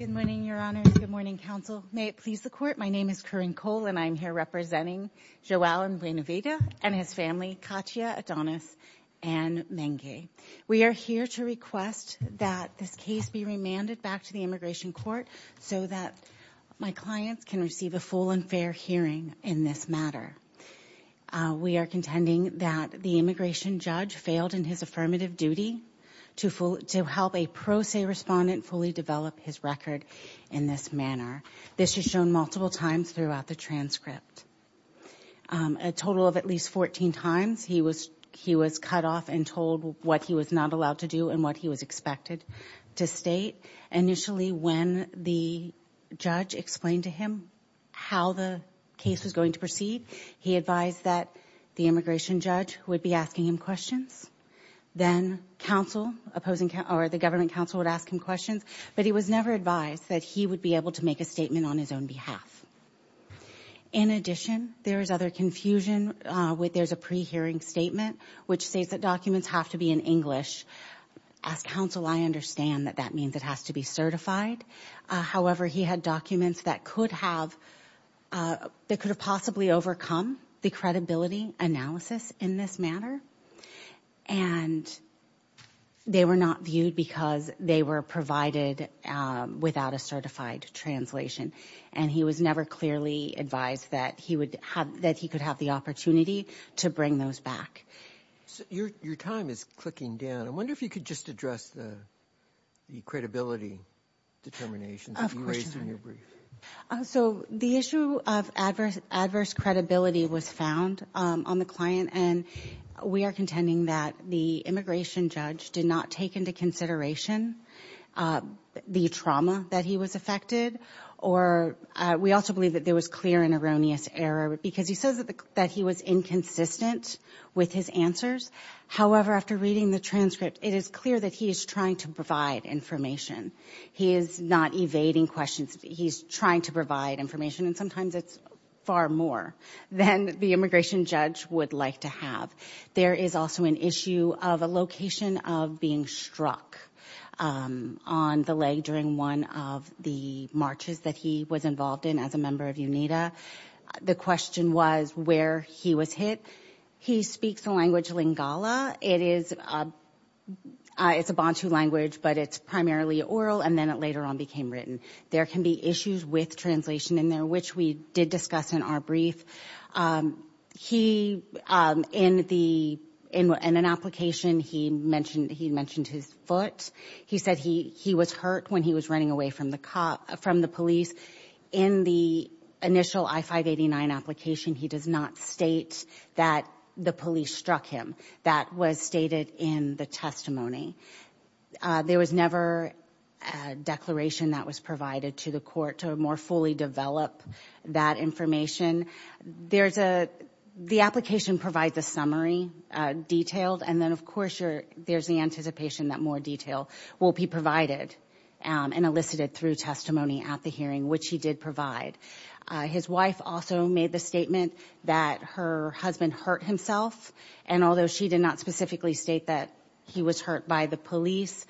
and his family, Katia, Adonis, and Mengi. We are here to request that this case be remanded back to the Immigration Court so that my clients can receive a full and fair hearing in this matter. We are contending that the immigration judge failed in his affirmative duty to help a pro se respondent fully develop his record in this manner. This is shown multiple times throughout the transcript. A total of at least 14 times he was cut off and told what he was not allowed to do and what he was expected to state. Initially, when the judge explained to him how the case was going to proceed, he advised that the immigration judge would be asking him questions, then the government counsel would ask him questions, but he was never advised that he would be able to make a statement on his own behalf. In addition, there is other confusion. There's a pre-hearing statement which states that documents have to be in English. As counsel, I understand that that means it has to be certified, however, he had documents that could have possibly overcome the credibility analysis in this manner, and they were not viewed because they were provided without a certified translation, and he was never clearly advised that he could have the opportunity to bring those back. Your time is clicking down. I wonder if you could just address the credibility determinations that you raised in your brief. So the issue of adverse credibility was found on the client, and we are contending that the immigration judge did not take into consideration the trauma that he was affected, or we also believe that there was clear and erroneous error, because he says that he was inconsistent with his answers. However, after reading the transcript, it is clear that he is trying to provide information. He is not evading questions. He's trying to provide information, and sometimes it's far more than the immigration judge would like to have. There is also an issue of a location of being struck on the leg during one of the marches that he was involved in as a member of UNITA. The question was where he was hit. He speaks the language Lingala. It is a Bantu language, but it's primarily oral, and then it later on became written. There can be issues with translation in there, which we did discuss in our brief. He, in an application, he mentioned his foot. He said he was hurt when he was running away from the police. In the initial I-589 application, he does not state that the police struck him. That was stated in the testimony. There was never a declaration that was provided to the court to more fully develop that information. The application provides a summary, detailed, and then, of course, there's the anticipation that more detail will be provided and elicited through testimony at the hearing, which he did provide. His wife also made the statement that her husband hurt himself, and although she did not specifically state that he was hurt by the police,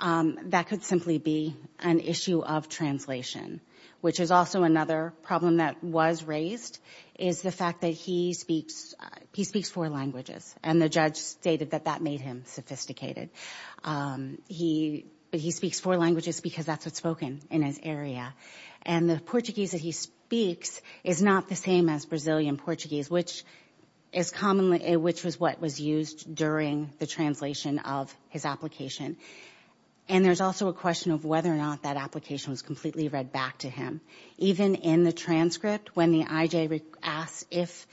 that could simply be an issue of translation, which is also another problem that was raised, is the fact that he speaks four languages, and the judge stated that that made him sophisticated. He speaks four languages because that's what's spoken in his area, and the Portuguese that he speaks is not the same as Brazilian Portuguese, which is commonly, which was what was used during the translation of his application, and there's also a question of whether or not that application was completely read back to him. Even in the transcript, when the IJ asked if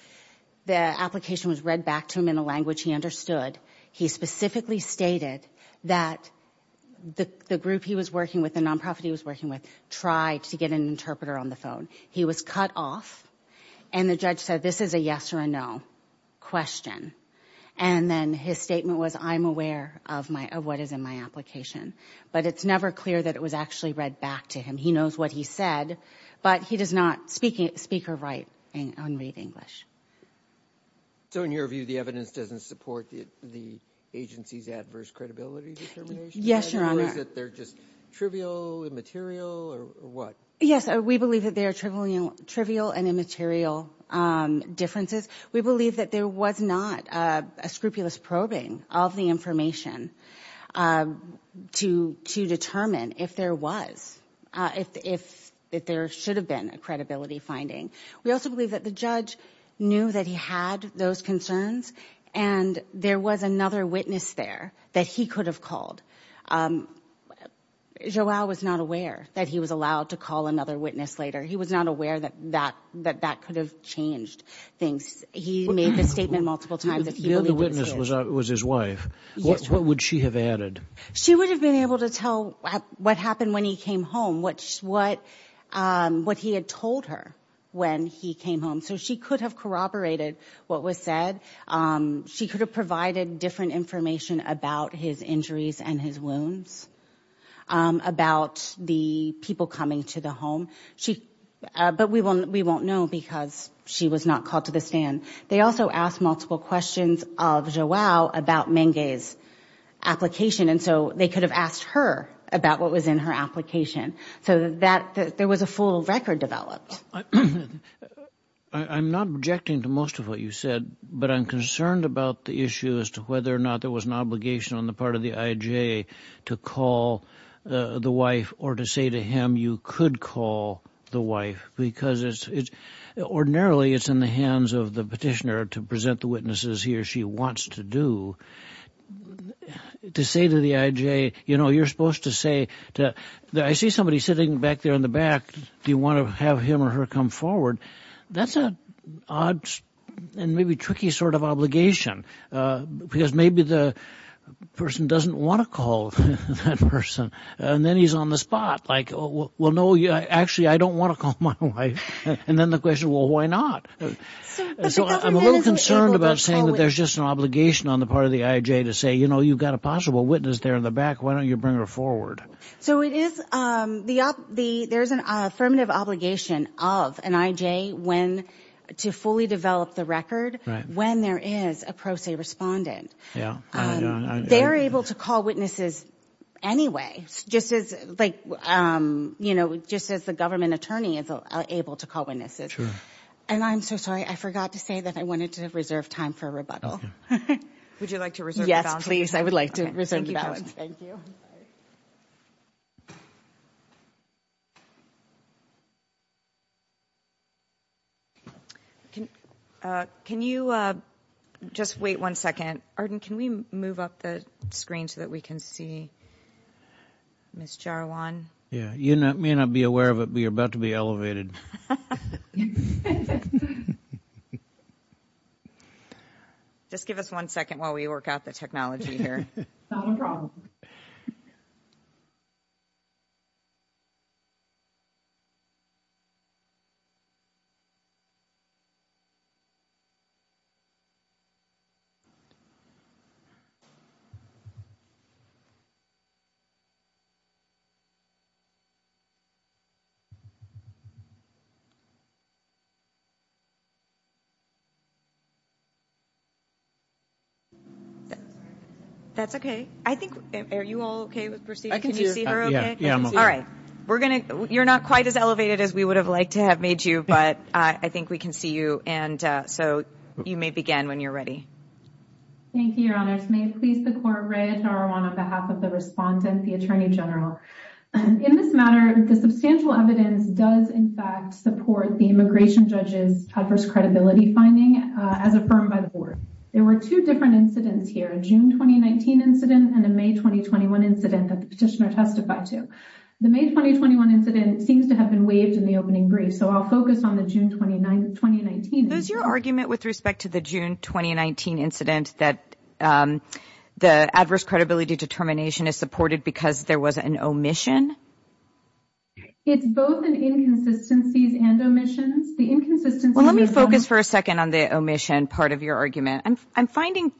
the application was read back to him in a language he understood, he specifically stated that the group he was working with, the nonprofit he was working with, tried to get an interpreter on the phone. He was cut off, and the judge said, this is a yes or a no question, and then his statement was I'm aware of what is in my application, but it's never clear that it was actually read back to him. He knows what he said, but he does not speak or write or read English. So in your view, the evidence doesn't support the agency's adverse credibility determination? Yes, Your Honor. Or is it they're just trivial, immaterial, or what? Yes, we believe that they are trivial and immaterial differences. We believe that there was not a scrupulous probing of the information to determine if there was, if there should have been a credibility finding. We also believe that the judge knew that he had those concerns, and there was another witness there that he could have called. Joao was not aware that he was allowed to call another witness later. He was not aware that that could have changed things. He made the statement multiple times that he really was his. The other witness was his wife. What would she have added? She would have been able to tell what happened when he came home, what he had told her when he came home. So she could have corroborated what was said. She could have provided different information about his injuries and his wounds, about the people coming to the home. But we won't know because she was not called to the stand. They also asked multiple questions of Joao about Menge's application, and so they could have asked her about what was in her application. So there was a full record developed. I'm not objecting to most of what you said, but I'm concerned about the issue as to whether or not there was an obligation on the part of the IJ to call the wife or to say to him you could call the wife. Because ordinarily it's in the hands of the petitioner to present the witnesses he or she wants to do. To say to the IJ, you know, you're supposed to say, I see somebody sitting back there in the back. Do you want to have him or her come forward? That's an odd and maybe tricky sort of obligation, because maybe the person doesn't want to call that person, and then he's on the spot like, well, no, actually, I don't want to call my wife. And then the question, well, why not? So I'm a little concerned about saying that there's just an obligation on the part of the IJ to say, you know, you've got a possible witness there in the back, why don't you bring her forward? So there's an affirmative obligation of an IJ to fully develop the record when there is a pro se respondent. They're able to call witnesses anyway, just as, like, you know, just as the government attorney is able to call witnesses. And I'm so sorry, I forgot to say that I wanted to reserve time for a rebuttal. Would you like to reserve the balance? Yes, please. I would like to reserve the balance. Thank you. Can you just wait one second? Arden, can we move up the screen so that we can see Ms. Jarwan? Yeah, you may not be aware of it, but you're about to be elevated. Just give us one second while we work out the technology here. No problem. That's okay. I think, are you all okay with proceeding? Can you see her okay? Yeah, I'm okay. All right. We're going to, you're not quite as elevated as we would have liked to have made you, but I think we can see you. And so you may begin when you're ready. Thank you, Your Honors. May it please the Court, Rhea Tarawan on behalf of the respondent, the Attorney General. In this matter, the substantial evidence does, in fact, support the immigration judge's adverse credibility finding as affirmed by the Board. There were two different incidents here, a June 2019 incident and a May 2021 incident that the petitioner testified to. The May 2021 incident seems to have been waived in the opening brief, so I'll focus on the June 2019 incident. Is your argument with respect to the June 2019 incident that the adverse credibility determination is supported because there was an omission? It's both an inconsistencies and omissions. The inconsistencies- Well, let me focus for a second on the omission part of your argument. I'm finding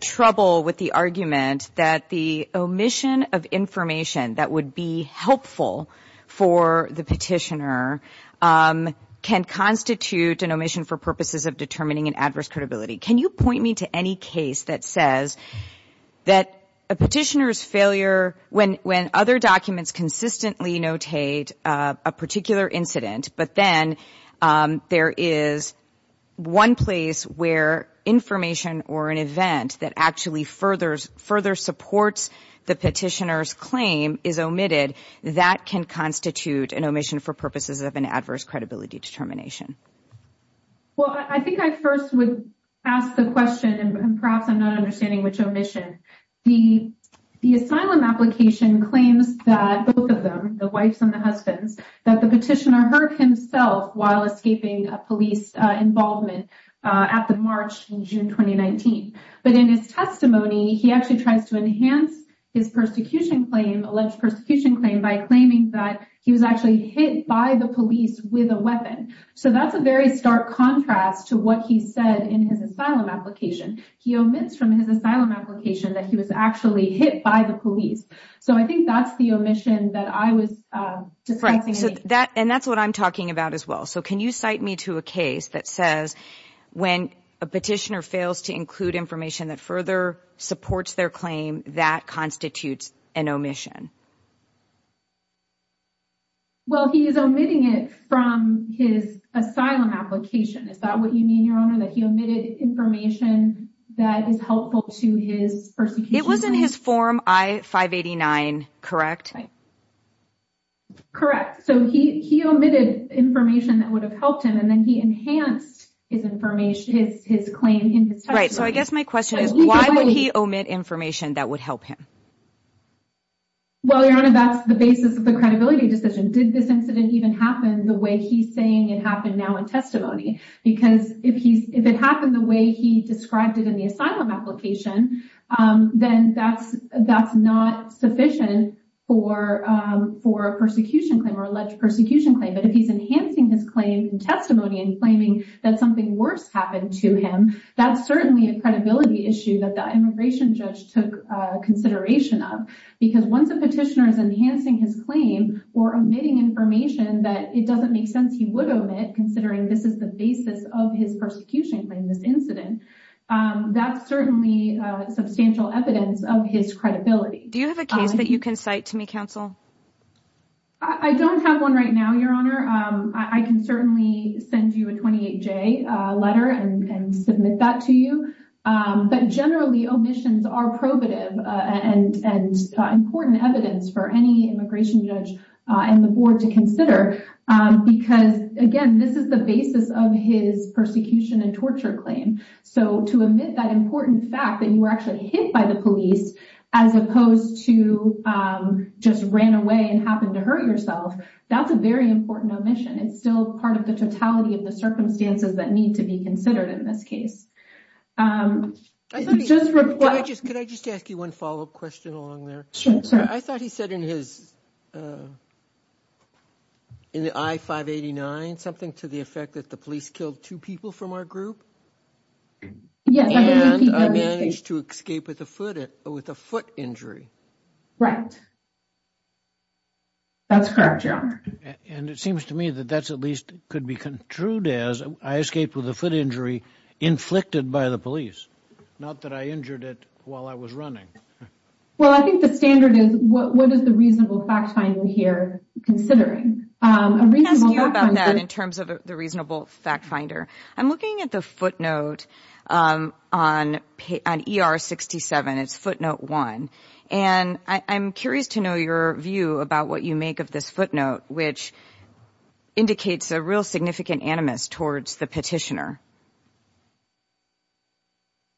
trouble with the argument that the omission of information that would be helpful for the petitioner can constitute an omission for purposes of determining an adverse credibility. Can you point me to any case that says that a petitioner's failure, when other documents consistently notate a particular incident, but then there is one place where information or an event that actually further supports the petitioner's claim is omitted, that can constitute an omission for purposes of an adverse credibility determination? Well, I think I first would ask the question, and perhaps I'm not understanding which omission. The asylum application claims that both of them, the wives and the husbands, that the But in his testimony, he actually tries to enhance his alleged persecution claim by claiming that he was actually hit by the police with a weapon. So that's a very stark contrast to what he said in his asylum application. He omits from his asylum application that he was actually hit by the police. So I think that's the omission that I was discussing. And that's what I'm talking about as well. So can you cite me to a case that says when a petitioner fails to include information that further supports their claim, that constitutes an omission? Well, he is omitting it from his asylum application. Is that what you mean, Your Honor, that he omitted information that is helpful to his persecution? It was in his form I-589, correct? Correct. So he omitted information that would have helped him, and then he enhanced his claim in his testimony. Right. So I guess my question is, why would he omit information that would help him? Well, Your Honor, that's the basis of the credibility decision. Did this incident even happen the way he's saying it happened now in testimony? Because if it happened the way he described it in the asylum application, then that's not sufficient for a persecution claim or alleged persecution claim. But if he's enhancing his claim in testimony and claiming that something worse happened to him, that's certainly a credibility issue that the immigration judge took consideration of. Because once a petitioner is enhancing his claim or omitting information that it doesn't make sense he would omit, considering this is the basis of his persecution claim, this credibility. Do you have a case that you can cite to me, Counsel? I don't have one right now, Your Honor. I can certainly send you a 28-J letter and submit that to you. But generally, omissions are probative and important evidence for any immigration judge and the board to consider. Because, again, this is the basis of his persecution and torture claim. So to omit that important fact that you were actually hit by the police as opposed to just ran away and happened to hurt yourself, that's a very important omission. It's still part of the totality of the circumstances that need to be considered in this case. Could I just ask you one follow-up question along there? Sure. I thought he said in the I-589 something to the effect that the police killed two people from our group. Yes. And I managed to escape with a foot injury. Right. That's correct, Your Honor. And it seems to me that that at least could be contrued as, I escaped with a foot injury inflicted by the police, not that I injured it while I was running. Well, I think the standard is, what is the reasonable fact finder here considering? Can I ask you about that in terms of the reasonable fact finder? I'm looking at the footnote on ER-67. It's footnote one. And I'm curious to know your view about what you make of this footnote, which indicates a real significant animus towards the petitioner.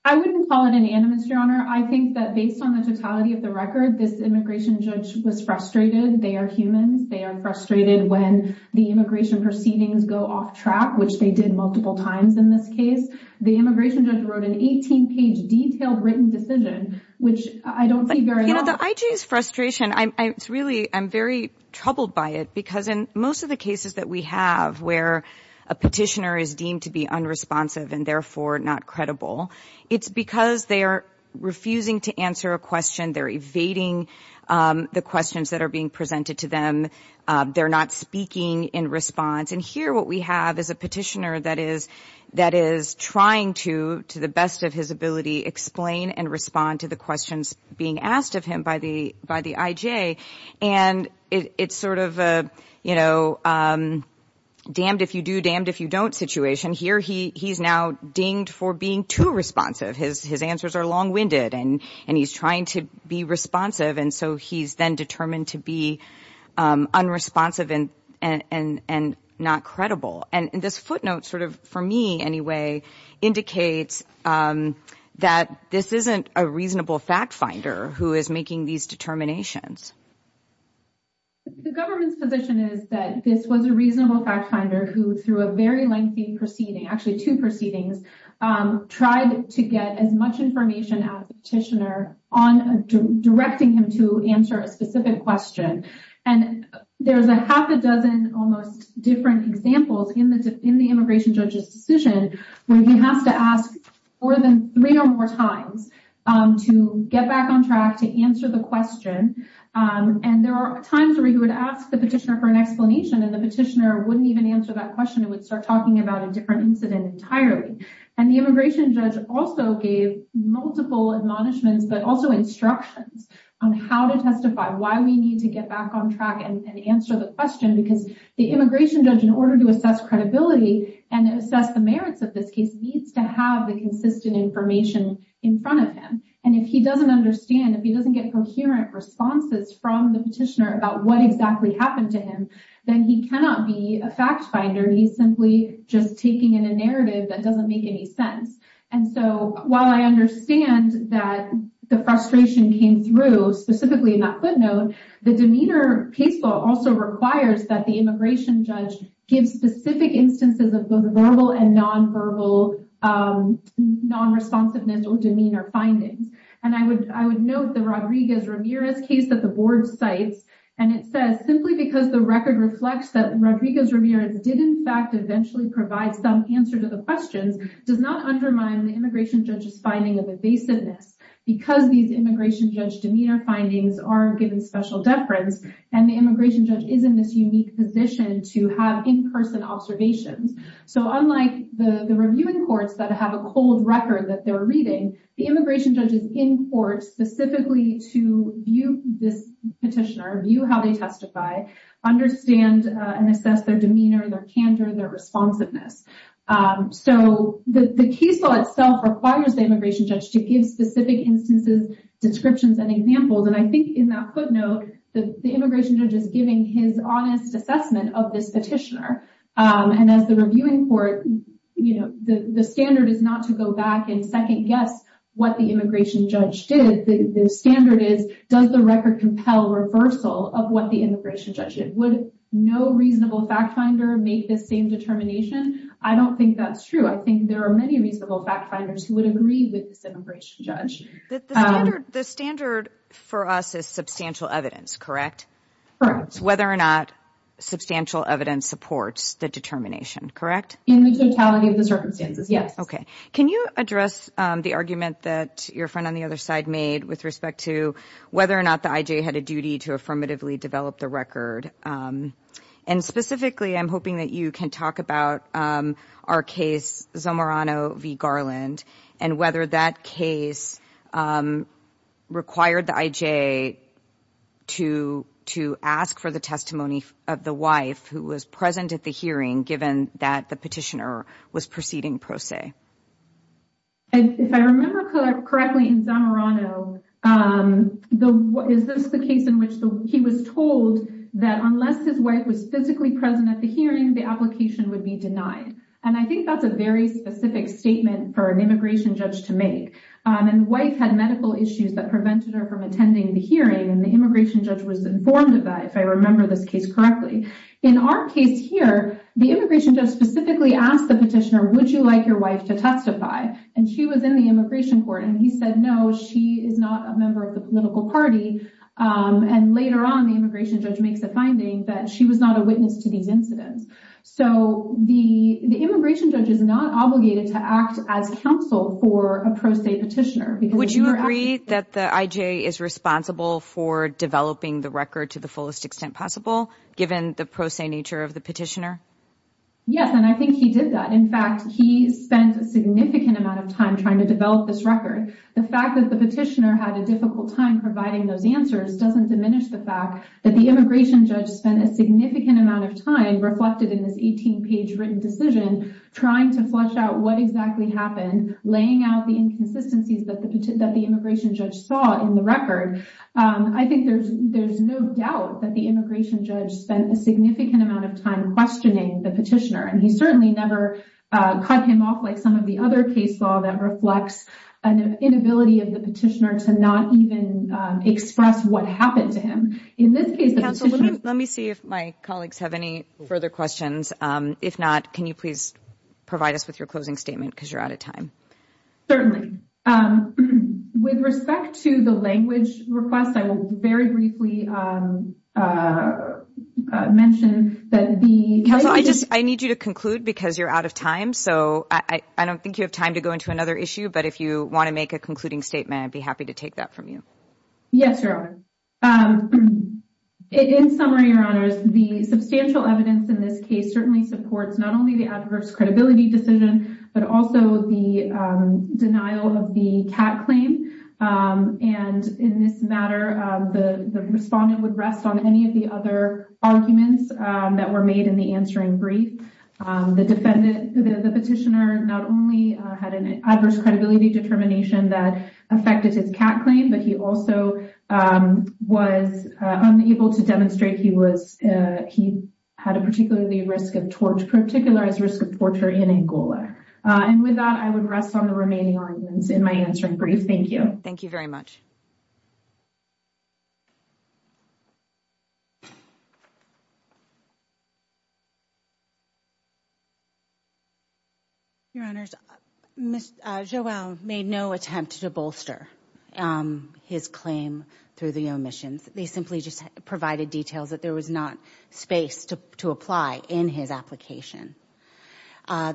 I wouldn't call it an animus, Your Honor. I think that based on the totality of the record, this immigration judge was frustrated. They are humans. They are frustrated when the immigration proceedings go off track, which they did multiple times in this case. The immigration judge wrote an 18-page detailed written decision, which I don't see very often. You know, the IG's frustration, it's really, I'm very troubled by it because in most of the cases that we have where a petitioner is deemed to be unresponsive and therefore not credible, it's because they are refusing to answer a question. They're evading the questions that are being presented to them. They're not speaking in response. And here what we have is a petitioner that is trying to, to the best of his ability, explain and respond to the questions being asked of him by the IJ. And it's sort of a, you know, damned if you do, damned if you don't situation. Here he's now dinged for being too responsive. His answers are long-winded and he's trying to be responsive. And so he's then determined to be unresponsive and not credible. And this footnote sort of, for me anyway, indicates that this isn't a reasonable fact finder who is making these determinations. The government's position is that this was a reasonable fact finder who, through a very difficult process, was able to get as much information as a petitioner on directing him to answer a specific question. And there's a half a dozen almost different examples in the immigration judge's decision where he has to ask more than three or more times to get back on track to answer the question. And there are times where he would ask the petitioner for an explanation and the petitioner wouldn't even answer that question and would start talking about a different incident entirely. And the immigration judge also gave multiple admonishments but also instructions on how to testify, why we need to get back on track and answer the question. Because the immigration judge, in order to assess credibility and assess the merits of this case, needs to have the consistent information in front of him. And if he doesn't understand, if he doesn't get coherent responses from the petitioner about what exactly happened to him, then he cannot be a fact finder. He's simply just taking in a narrative that doesn't make any sense. And so while I understand that the frustration came through, specifically in that footnote, the demeanor case law also requires that the immigration judge give specific instances of both verbal and nonverbal nonresponsiveness or demeanor findings. And I would note the Rodriguez-Ramirez case that the board cites, and it says, that simply because the record reflects that Rodriguez-Ramirez did, in fact, eventually provide some answer to the questions, does not undermine the immigration judge's finding of evasiveness. Because these immigration judge demeanor findings are given special deference, and the immigration judge is in this unique position to have in-person observations. So unlike the reviewing courts that have a cold record that they're reading, the immigration judge is in court specifically to view this petitioner, view how they testify, understand and assess their demeanor, their candor, their responsiveness. So the case law itself requires the immigration judge to give specific instances, descriptions, and examples. And I think in that footnote, the immigration judge is giving his honest assessment of this petitioner. And as the reviewing court, you know, the standard is not to go back and second guess what the immigration judge did. The standard is, does the record compel reversal of what the immigration judge did? Would no reasonable fact finder make this same determination? I don't think that's true. I think there are many reasonable fact finders who would agree with this immigration judge. The standard for us is substantial evidence, correct? Correct. Whether or not substantial evidence supports the determination, correct? In the totality of the circumstances, yes. Okay. Can you address the argument that your friend on the other side made with respect to whether or not the I.J. had a duty to affirmatively develop the record? And specifically, I'm hoping that you can talk about our case, Zamorano v. Garland, and whether that case required the I.J. to ask for the testimony of the wife who was present at the hearing, given that the petitioner was proceeding pro se. If I remember correctly in Zamorano, is this the case in which he was told that unless his wife was physically present at the hearing, the application would be denied? And I think that's a very specific statement for an immigration judge to make. And the wife had medical issues that prevented her from attending the hearing, and the immigration judge was informed of that, if I remember this case correctly. In our case here, the immigration judge specifically asked the petitioner, would you like your wife to testify? And she was in the immigration court, and he said no, she is not a member of the political party. And later on, the immigration judge makes a finding that she was not a witness to these incidents. So the immigration judge is not obligated to act as counsel for a pro se petitioner. Would you agree that the I.J. is responsible for developing the record to the fullest extent possible, given the pro se nature of the petitioner? Yes, and I think he did that. In fact, he spent a significant amount of time trying to develop this record. The fact that the petitioner had a difficult time providing those answers doesn't diminish the fact that the immigration judge spent a significant amount of time reflected in this 18-page written decision trying to flesh out what exactly happened, laying out the inconsistencies that the immigration judge saw in the record. I think there's no doubt that the immigration judge spent a significant amount of time questioning the petitioner, and he certainly never cut him off like some of the other case law that reflects an inability of the petitioner to not even express what happened to him. Let me see if my colleagues have any further questions. If not, can you please provide us with your closing statement, because you're out of time. With respect to the language request, I will very briefly mention that the Counsel, I need you to conclude because you're out of time, so I don't think you have time to go into another issue, but if you want to make a concluding statement, I'd be happy to take that from you. Yes, Your Honor. In summary, Your Honors, the substantial evidence in this case certainly supports not only the adverse credibility decision, but also the denial of the CAT claim. In this matter, the respondent would rest on any of the other arguments that were made in the answering brief. The petitioner not only had an adverse credibility determination that affected his CAT claim, but he also was unable to demonstrate he had a particular risk of torture in Angola. With that, I would rest on the remaining arguments in my answering brief. Thank you. Thank you very much. Thank you. Your Honors, Ms. Joelle made no attempt to bolster his claim through the omissions. They simply just provided details that there was not space to apply in his application.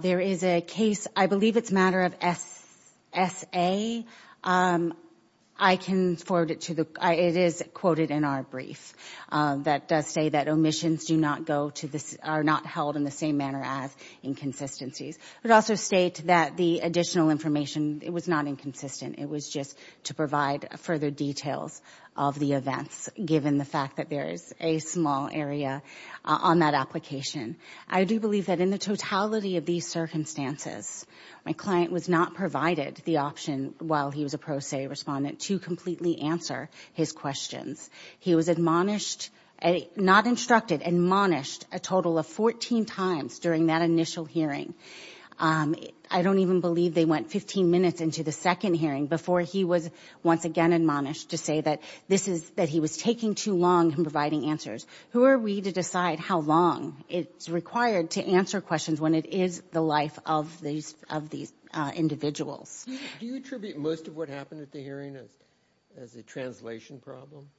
There is a case, I believe it's a matter of S.A., I can forward it to the, it is quoted in our brief, that does say that omissions do not go to, are not held in the same manner as inconsistencies. It also states that the additional information, it was not inconsistent, it was just to provide further details of the events, given the fact that there is a small area on that application. I do believe that in the totality of these circumstances, my client was not provided the option, while he was a pro se respondent, to completely answer his questions. He was admonished, not instructed, admonished a total of 14 times during that initial hearing. I don't even believe they went 15 minutes into the second hearing before he was once again admonished to say that this is, that he was taking too long in providing answers. Who are we to decide how long it's required to answer questions when it is the life of these individuals? Do you attribute most of what happened at the hearing as a translation problem?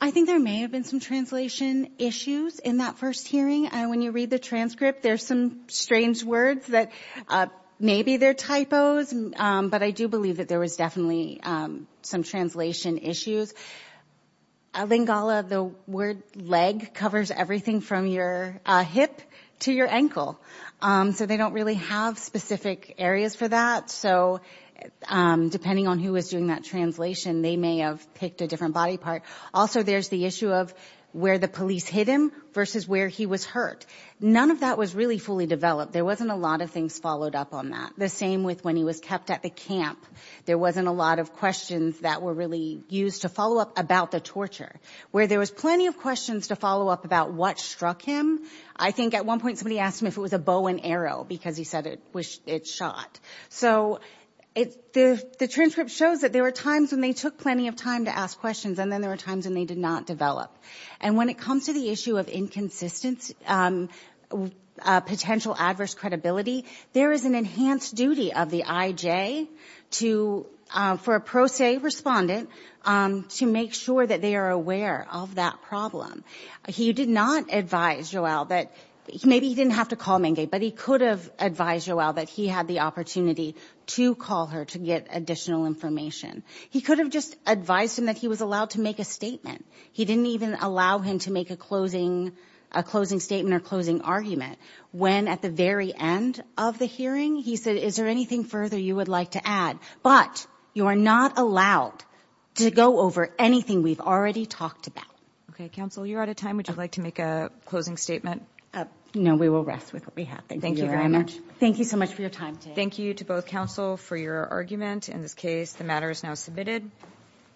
I think there may have been some translation issues in that first hearing. When you read the transcript, there's some strange words that may be there typos, but I do believe that there was definitely some translation issues. Lingala, the word leg, covers everything from your hip to your ankle. So they don't really have specific areas for that. So depending on who was doing that translation, they may have picked a different body part. Also, there's the issue of where the police hit him versus where he was hurt. None of that was really fully developed. There wasn't a lot of things followed up on that. The same with when he was kept at the camp. There wasn't a lot of questions that were really used to follow up about the torture. Where there was plenty of questions to follow up about what struck him, I think at one point somebody asked him if it was a bow and arrow, because he said it shot. So the transcript shows that there were times when they took plenty of time to ask questions, and then there were times when they did not develop. And when it comes to the issue of inconsistency, potential adverse credibility, there is an enhanced duty of the IJ to, for a pro se respondent, to make sure that they are aware of that problem. He did not advise Joelle that, maybe he didn't have to call Menge, but he could have advised Joelle that he had the opportunity to call her to get additional information. He could have just advised him that he was allowed to make a statement. He didn't even allow him to make a closing statement or closing argument. When at the very end of the hearing, he said, is there anything further you would like to add? But you are not allowed to go over anything we've already talked about. Okay, counsel, you're out of time. Would you like to make a closing statement? No, we will rest with what we have. Thank you very much. Thank you so much for your time today. Thank you to both counsel for your argument. In this case, the matter is now submitted.